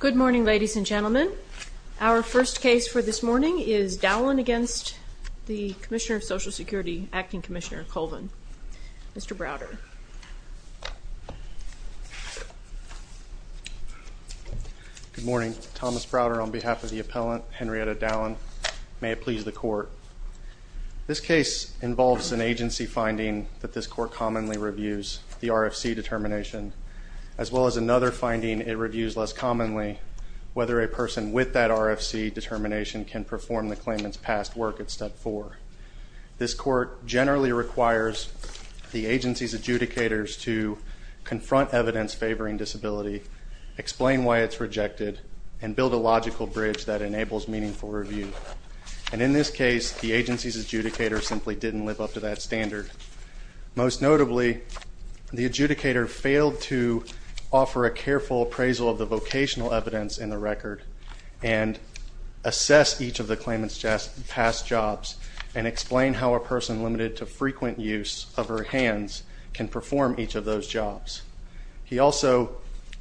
Good morning, ladies and gentlemen. Our first case for this morning is Dowlen against the Commissioner of Social Security, Acting Commissioner Colvin. Mr. Browder. Good morning. Thomas Browder on behalf of the appellant, Henrietta Dowlen. May it please the court. This case involves an agency finding that this court commonly reviews, the RFC determination. As well as another finding, it reviews less commonly whether a person with that RFC determination can perform the claimant's past work at step four. This court generally requires the agency's adjudicators to confront evidence favoring disability, explain why it's rejected, and build a logical bridge that enables meaningful review. And in this case, the agency's adjudicator simply didn't live up to that standard. Most notably, the adjudicator failed to offer a careful appraisal of the vocational evidence in the record and assess each of the claimant's past jobs and explain how a person limited to frequent use of her hands can perform each of those jobs. He also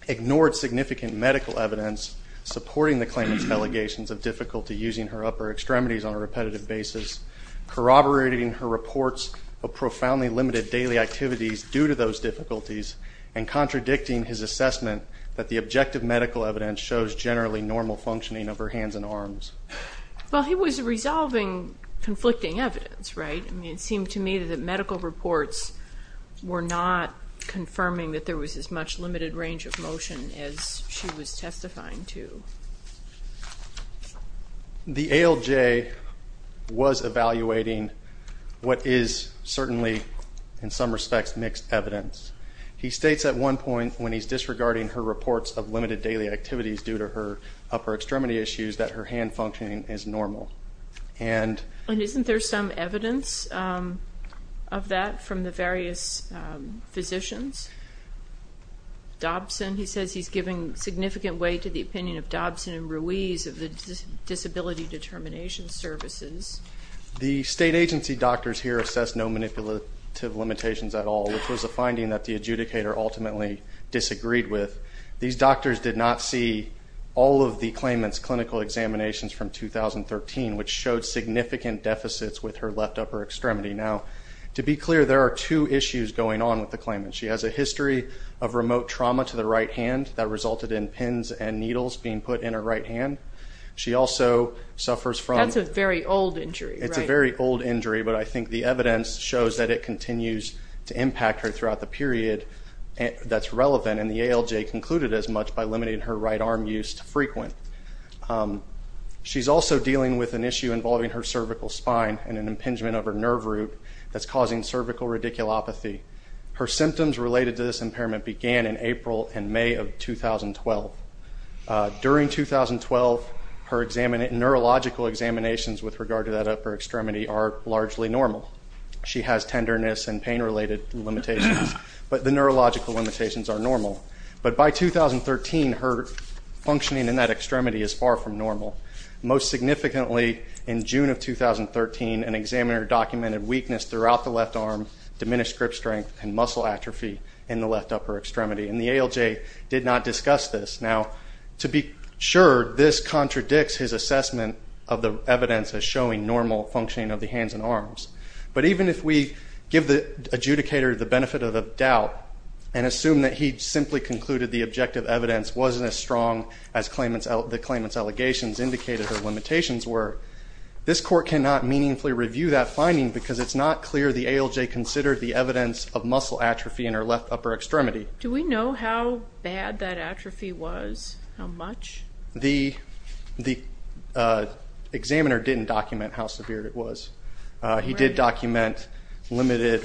ignored significant medical evidence supporting the claimant's allegations of difficulty using her upper extremities on a repetitive basis, corroborating her reports of profoundly limited daily activities due to those difficulties, and contradicting his assessment that the objective medical evidence shows generally normal functioning of her hands and arms. Well, he was resolving conflicting evidence, right? I mean, it seemed to me that the medical reports were not confirming that there was as much limited range of motion as she was testifying to. The ALJ was evaluating what is certainly, in some respects, mixed evidence. He states at one point when he's disregarding her reports of limited daily activities due to her upper extremity issues, that her hand functioning is normal. And isn't there some evidence of that from the various physicians? Dobson, he says he's giving significant weight to the opinion of Dobson and Ruiz of the Disability Determination Services. The state agency doctors here assessed no manipulative limitations at all, which was a finding that the adjudicator ultimately disagreed with. These doctors did not see all of the claimant's clinical examinations from 2013, which showed significant deficits with her left upper extremity. Now, to be clear, there are two issues going on with the claimant. She has a history of remote trauma to the right hand that resulted in pins and needles being put in her right hand. She also suffers from- That's a very old injury, right? It's a very old injury, but I think the evidence shows that it continues to impact her throughout the period that's relevant. And the ALJ concluded as much by limiting her right arm use to frequent. She's also dealing with an issue involving her cervical spine and an impingement of her nerve root that's causing cervical radiculopathy. Her symptoms related to this impairment began in April and May of 2012. During 2012, her neurological examinations with regard to that upper extremity are largely normal. She has tenderness and pain-related limitations, but the neurological limitations are normal. But by 2013, her functioning in that extremity is far from normal. Most significantly, in June of 2013, an examiner documented weakness throughout the left arm, diminished grip strength, and muscle atrophy in the left upper extremity, and the ALJ did not discuss this. Now, to be sure, this contradicts his assessment of the evidence as showing normal functioning of the hands and arms. But even if we give the adjudicator the benefit of the doubt and assume that he simply concluded the objective evidence wasn't as strong as the claimant's allegations indicated or limitations were, this court cannot meaningfully review that finding because it's not clear the ALJ considered the evidence of muscle atrophy in her left upper extremity. Do we know how bad that atrophy was, how much? The examiner didn't document how severe it was. He did document limited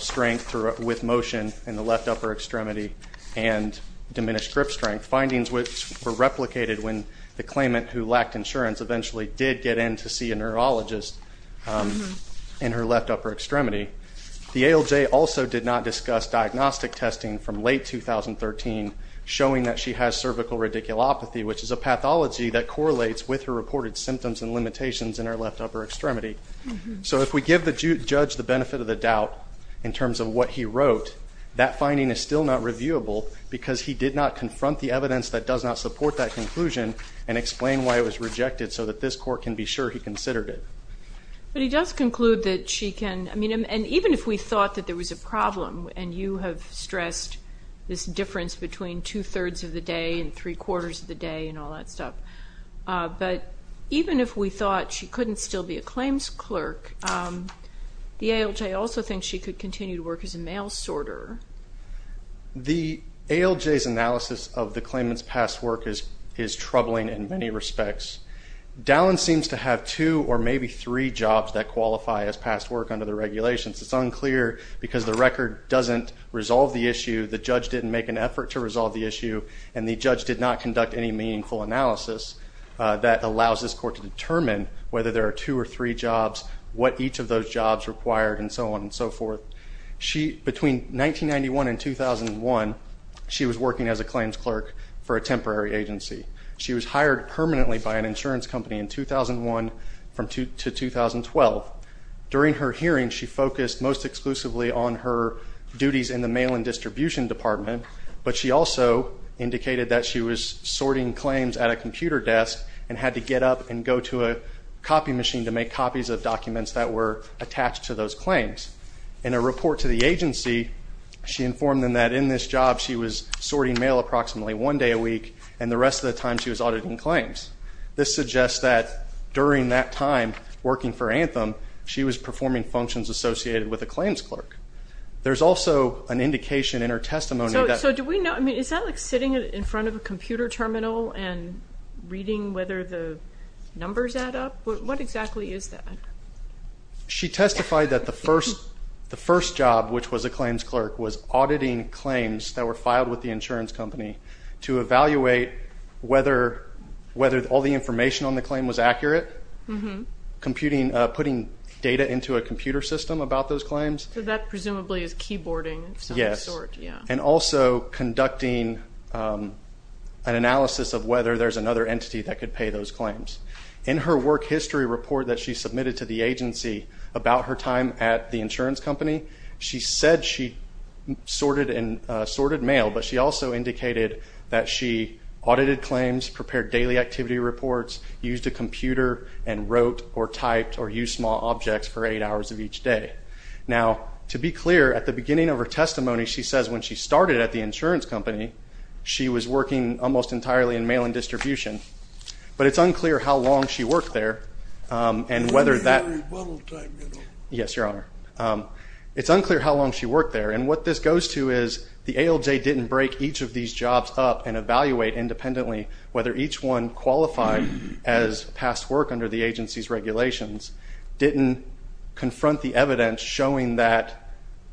strength with motion in the left upper extremity and diminished grip strength, findings which were replicated when the claimant who lacked insurance eventually did get in to see a neurologist in her left upper extremity. The ALJ also did not discuss diagnostic testing from late 2013 showing that she has cervical radiculopathy, which is a pathology that correlates with her reported symptoms and limitations in her left upper extremity. So if we give the judge the benefit of the doubt in terms of what he wrote, that finding is still not reviewable because he did not confront the evidence that does not support that conclusion and explain why it was rejected so that this court can be sure he considered it. But he does conclude that she can, I mean, and even if we thought that there was a problem, and you have stressed this difference between two-thirds of the day and three-quarters of the day and all that stuff, but even if we thought she couldn't still be a claims clerk, the ALJ also thinks she could continue to work as a mail sorter. The ALJ's analysis of the claimant's past work is troubling in many respects. Dallin seems to have two or maybe three jobs that qualify as past work under the regulations. It's unclear because the record doesn't resolve the issue, the judge didn't make an effort to resolve the issue, and the judge did not conduct any meaningful analysis that allows this court to determine whether there are two or three jobs, what each of those jobs required, and so on and so forth. Between 1991 and 2001, she was working as a claims clerk for a temporary agency. She was hired permanently by an insurance company in 2001 to 2012. During her hearing, she focused most exclusively on her duties in the mail and distribution department, but she also indicated that she was sorting claims at a computer desk and had to get up and go to a copy machine to make copies of documents that were attached to those claims. In a report to the agency, she informed them that in this job she was sorting mail approximately one day a week, and the rest of the time she was auditing claims. This suggests that during that time working for Anthem, she was performing functions associated with a claims clerk. There's also an indication in her testimony that... So do we know, I mean, is that like sitting in front of a computer terminal and reading whether the numbers add up? What exactly is that? She testified that the first job, which was a claims clerk, was auditing claims that were filed with the insurance company to evaluate whether all the information on the claim was accurate, putting data into a computer system about those claims. So that presumably is keyboarding of some sort. Yes, and also conducting an analysis of whether there's another entity that could pay those claims. In her work history report that she submitted to the agency about her time at the insurance company, she said she sorted mail, but she also indicated that she audited claims, prepared daily activity reports, used a computer, and wrote or typed or used small objects for eight hours of each day. Now, to be clear, at the beginning of her testimony, she says when she started at the insurance company, she was working almost entirely in mail and distribution. But it's unclear how long she worked there and whether that... It was a rebuttal time, you know. Yes, Your Honor. It's unclear how long she worked there. And what this goes to is the ALJ didn't break each of these jobs up and evaluate independently whether each one qualified as past work under the agency's regulations, didn't confront the evidence showing that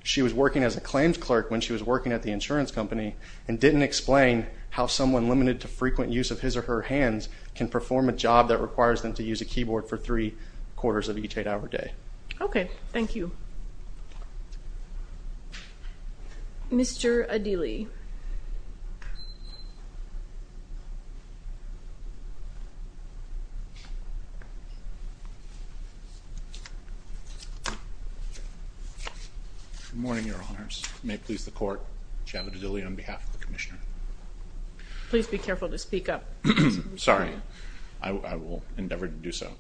she was working as a claims clerk when she was working at the insurance company, and didn't explain how someone limited to frequent use of his or her hands can perform a job that requires them to use a keyboard for three quarters of each eight-hour day. Okay. Thank you. Mr. Adili. Good morning, Your Honors. May it please the Court, Javed Adili on behalf of the Commissioner. Please be careful to speak up. Sorry. I will endeavor to do so.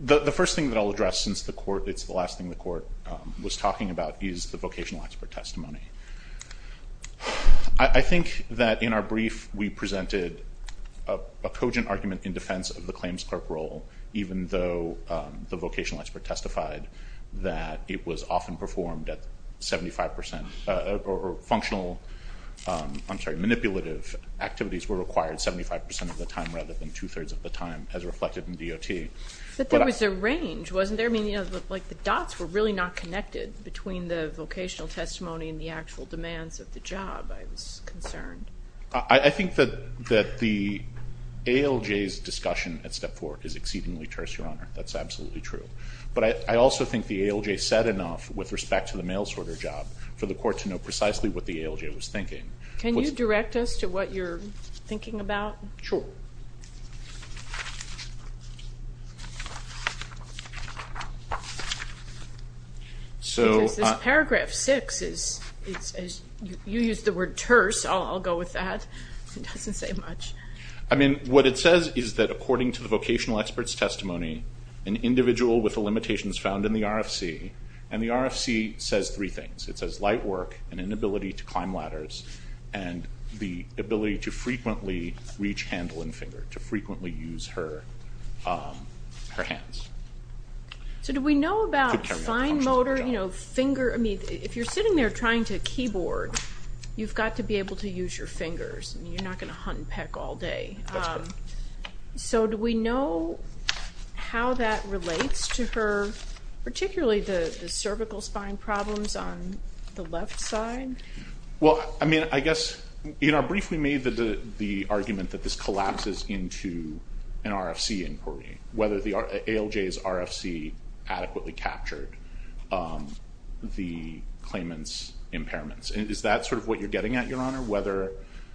The first thing that I'll address since it's the last thing the Court was talking about is the vocational expert testimony. I think that in our brief, we presented a cogent argument in defense of the claims clerk role, even though the vocational expert testified that it was often performed at 75% or functional, I'm sorry, manipulative activities were required 75% of the time rather than two-thirds of the time as reflected in DOT. But there was a range, wasn't there? I mean, you know, like the dots were really not connected between the vocational testimony and the actual demands of the job, I was concerned. I think that the ALJ's discussion at step four is exceedingly terse, Your Honor. That's absolutely true. But I also think the ALJ said enough with respect to the mail-sorter job for the Court to know precisely what the ALJ was thinking. Can you direct us to what you're thinking about? Sure. Because this paragraph six is, you used the word terse, I'll go with that. It doesn't say much. I mean, what it says is that according to the vocational expert's testimony, an individual with the limitations found in the RFC, and the RFC says three things. It says light work, an inability to climb ladders, and the ability to frequently reach handle and finger, to frequently use her hands. So do we know about fine motor, you know, finger? I mean, if you're sitting there trying to keyboard, you've got to be able to use your fingers. I mean, you're not going to hunt and peck all day. That's correct. So do we know how that relates to her, particularly the cervical spine problems on the left side? Well, I mean, I guess in our brief we made the argument that this collapses into an RFC inquiry, whether the ALJ's RFC adequately captured the claimant's impairments. Is that sort of what you're getting at, Your Honor?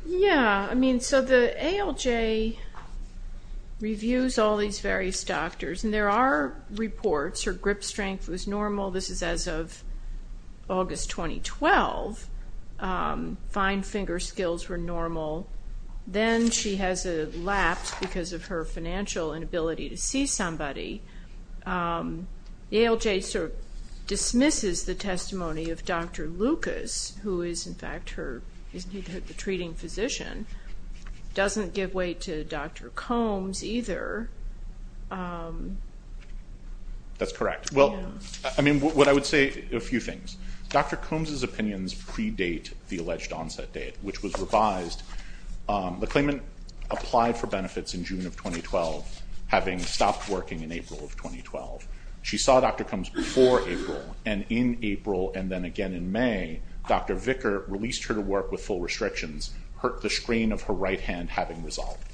Yeah. I mean, so the ALJ reviews all these various doctors, and there are reports her grip strength was normal. This is as of August 2012. Fine finger skills were normal. Then she has a lapse because of her financial inability to see somebody. The ALJ sort of dismisses the testimony of Dr. Lucas, who is, in fact, her treating physician, doesn't give way to Dr. Combs either. That's correct. Well, I mean, what I would say, a few things. Dr. Combs' opinions predate the alleged onset date, which was revised. The claimant applied for benefits in June of 2012, having stopped working in April of 2012. She saw Dr. Combs before April, and in April and then again in May, Dr. Vicker released her to work with full restrictions, the strain of her right hand having resolved.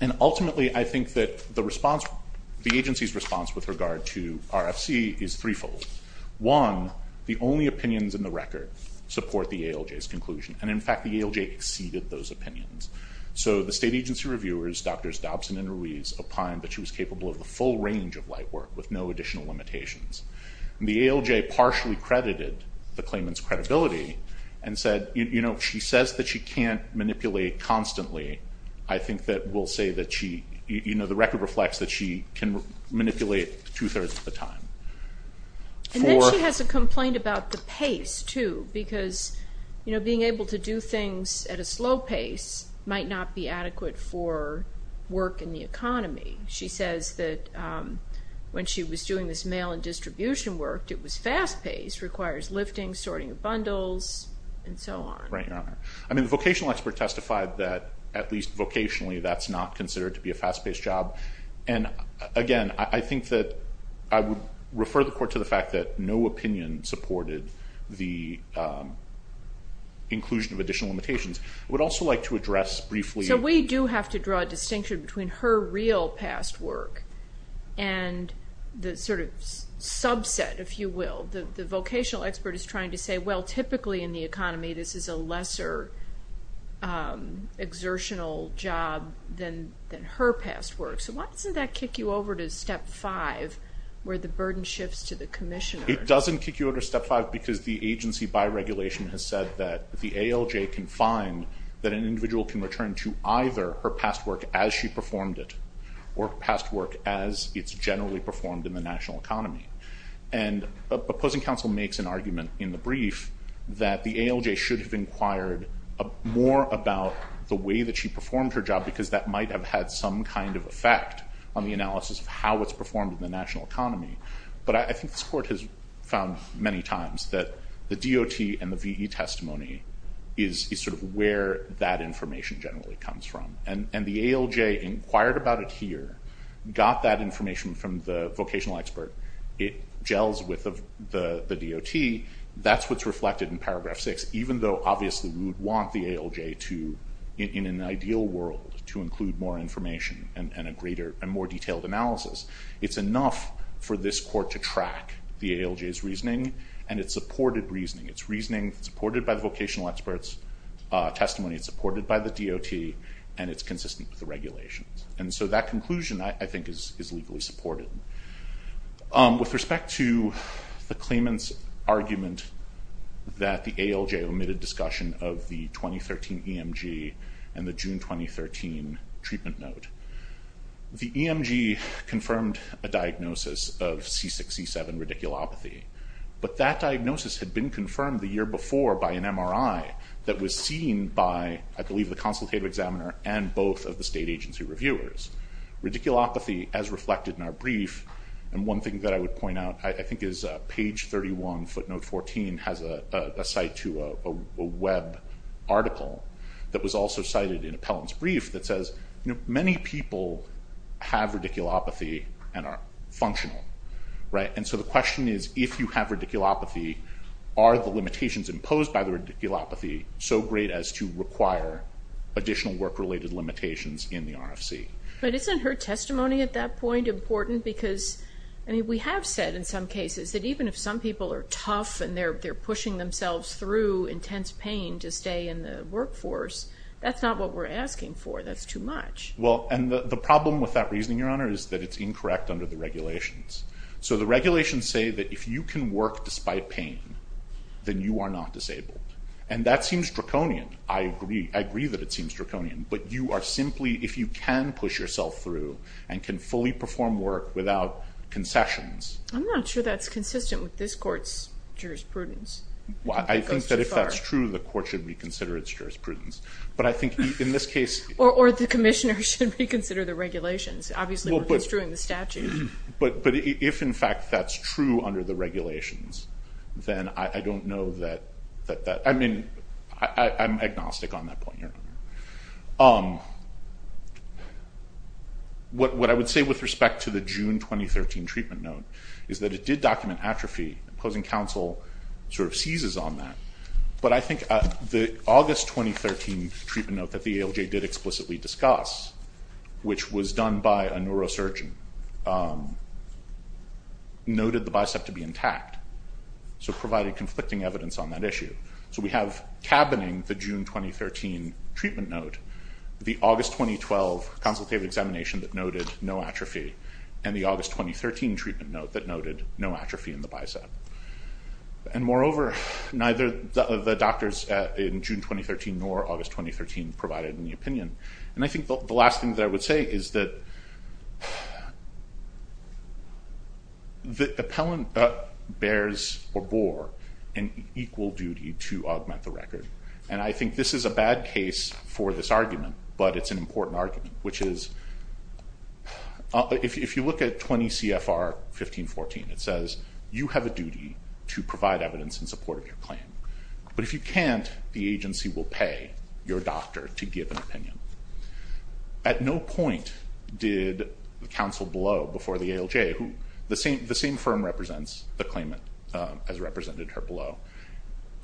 And ultimately, I think that the agency's response with regard to RFC is threefold. One, the only opinions in the record support the ALJ's conclusion. And, in fact, the ALJ exceeded those opinions. So the state agency reviewers, Drs. Dobson and Ruiz, opined that she was capable of the full range of light work with no additional limitations. The ALJ partially credited the claimant's credibility and said, you know, she says that she can't manipulate constantly. I think that will say that she, you know, the record reflects that she can manipulate two-thirds of the time. And then she has a complaint about the pace, too, because, you know, being able to do things at a slow pace might not be adequate for work in the economy. She says that when she was doing this mail and distribution work, it was fast-paced, requires lifting, sorting of bundles, and so on. Right, Your Honor. I mean, the vocational expert testified that, at least vocationally, that's not considered to be a fast-paced job. And, again, I think that I would refer the court to the fact that no opinion supported the inclusion of additional limitations. I would also like to address briefly. So we do have to draw a distinction between her real past work and the sort of subset, if you will. The vocational expert is trying to say, well, typically in the economy, this is a lesser exertional job than her past work. So why doesn't that kick you over to Step 5, where the burden shifts to the commissioner? It doesn't kick you over to Step 5 because the agency, by regulation, has said that the ALJ can find that an individual can return to either her past work as she performed it or past work as it's generally performed in the national economy. And opposing counsel makes an argument in the brief that the ALJ should have inquired more about the way that she performed her job because that might have had some kind of effect on the analysis of how it's performed in the national economy. But I think this court has found many times that the DOT and the VE testimony is sort of where that information generally comes from. And the ALJ inquired about it here, got that information from the vocational expert. It gels with the DOT. That's what's reflected in Paragraph 6, even though obviously we would want the ALJ to, in an ideal world, to include more information and a greater and more detailed analysis. It's enough for this court to track the ALJ's reasoning, and it's supported reasoning. It's reasoning supported by the vocational expert's testimony. It's supported by the DOT, and it's consistent with the regulations. And so that conclusion, I think, is legally supported. With respect to the claimant's argument that the ALJ omitted discussion of the 2013 EMG and the June 2013 treatment note, the EMG confirmed a diagnosis of C6-C7 radiculopathy, but that diagnosis had been confirmed the year before by an MRI that was seen by, I believe, the consultative examiner and both of the state agency reviewers. Radiculopathy, as reflected in our brief, and one thing that I would point out, I think, is page 31, footnote 14, has a cite to a web article that was also cited in Appellant's brief that says, you know, many people have radiculopathy and are functional, right? And so the question is, if you have radiculopathy, are the limitations imposed by the radiculopathy so great as to require additional work-related limitations in the RFC? But isn't her testimony at that point important? Because, I mean, we have said in some cases that even if some people are tough and they're pushing themselves through intense pain to stay in the workforce, that's not what we're asking for. That's too much. Well, and the problem with that reasoning, Your Honor, is that it's incorrect under the regulations. So the regulations say that if you can work despite pain, then you are not disabled. And that seems draconian. I agree that it seems draconian. But you are simply, if you can push yourself through and can fully perform work without concessions. I'm not sure that's consistent with this court's jurisprudence. I think that if that's true, the court should reconsider its jurisprudence. But I think in this case... Or the commissioner should reconsider the regulations. Obviously, we're construing the statute. But if, in fact, that's true under the regulations, then I don't know that that... I mean, I'm agnostic on that point, Your Honor. What I would say with respect to the June 2013 treatment note is that it did document atrophy. Opposing counsel sort of seizes on that. But I think the August 2013 treatment note that the ALJ did explicitly discuss, which was done by a neurosurgeon, noted the bicep to be intact, so provided conflicting evidence on that issue. So we have cabining the June 2013 treatment note, the August 2012 consultative examination that noted no atrophy, and the August 2013 treatment note that noted no atrophy in the bicep. And, moreover, neither the doctors in June 2013 nor August 2013 provided any opinion. And I think the last thing that I would say is that the appellant bears or bore an equal duty to augment the record. And I think this is a bad case for this argument, but it's an important argument, which is... If you look at 20 CFR 1514, it says you have a duty to provide evidence in support of your claim. But if you can't, the agency will pay your doctor to give an opinion. At no point did the counsel below, before the ALJ, who... The same firm represents the claimant as represented here below,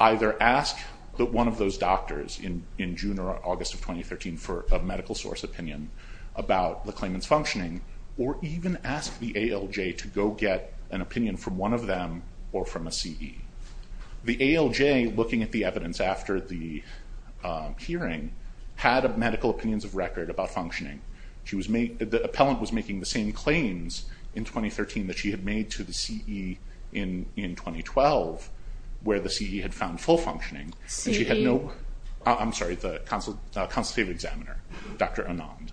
either ask one of those doctors in June or August of 2013 for a medical source opinion about the claimant's functioning, or even ask the ALJ to go get an opinion from one of them or from a CE. The ALJ, looking at the evidence after the hearing, had medical opinions of record about functioning. The appellant was making the same claims in 2013 that she had made to the CE in 2012, where the CE had found full functioning. And she had no... CE? I'm sorry, the consultative examiner, Dr. Anand.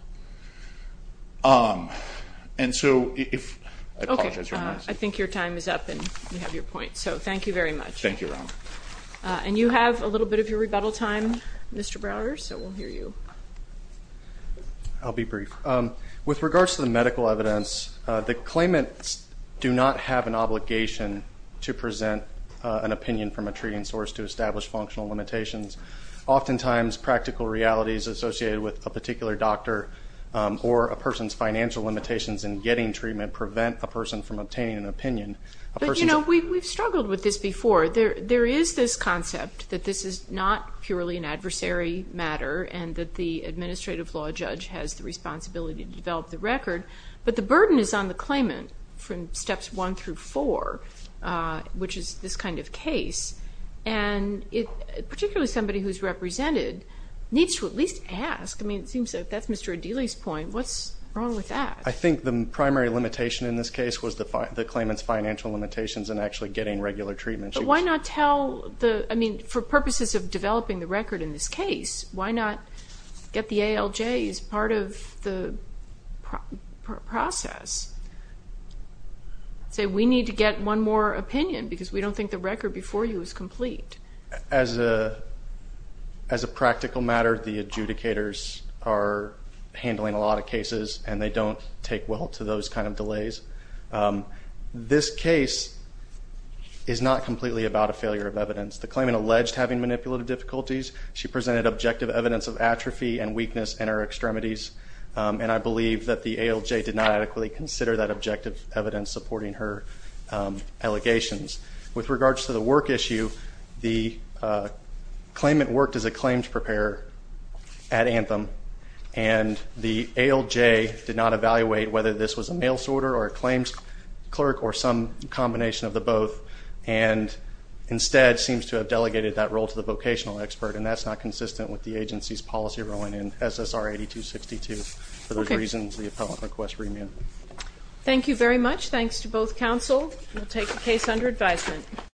And so if... Okay, I think your time is up, and you have your point. So thank you very much. Thank you, Your Honor. And you have a little bit of your rebuttal time, Mr. Browder, so we'll hear you. I'll be brief. With regards to the medical evidence, the claimants do not have an obligation to present an opinion from a treating source to establish functional limitations. Oftentimes, practical realities associated with a particular doctor or a person's financial limitations in getting treatment prevent a person from obtaining an opinion. But, you know, we've struggled with this before. There is this concept that this is not purely an adversary matter and that the administrative law judge has the responsibility to develop the record. But the burden is on the claimant from steps one through four, which is this kind of case. And particularly somebody who's represented needs to at least ask. I mean, it seems that that's Mr. Adili's point. What's wrong with that? I think the primary limitation in this case was the claimant's financial limitations in actually getting regular treatment. But why not tell the, I mean, for purposes of developing the record in this case, why not get the ALJ as part of the process? Say we need to get one more opinion because we don't think the record before you is complete. As a practical matter, the adjudicators are handling a lot of cases, and they don't take well to those kind of delays. This case is not completely about a failure of evidence. The claimant alleged having manipulative difficulties. She presented objective evidence of atrophy and weakness in her extremities, and I believe that the ALJ did not adequately consider that objective evidence supporting her allegations. With regards to the work issue, the claimant worked as a claims preparer at Anthem, and the ALJ did not evaluate whether this was a mail sorter or a claims clerk or some combination of the both, and instead seems to have delegated that role to the vocational expert, and that's not consistent with the agency's policy role in SSR 8262. For those reasons, the appellant requests remand. Thank you very much. Thanks to both counsel. We'll take the case under advisement.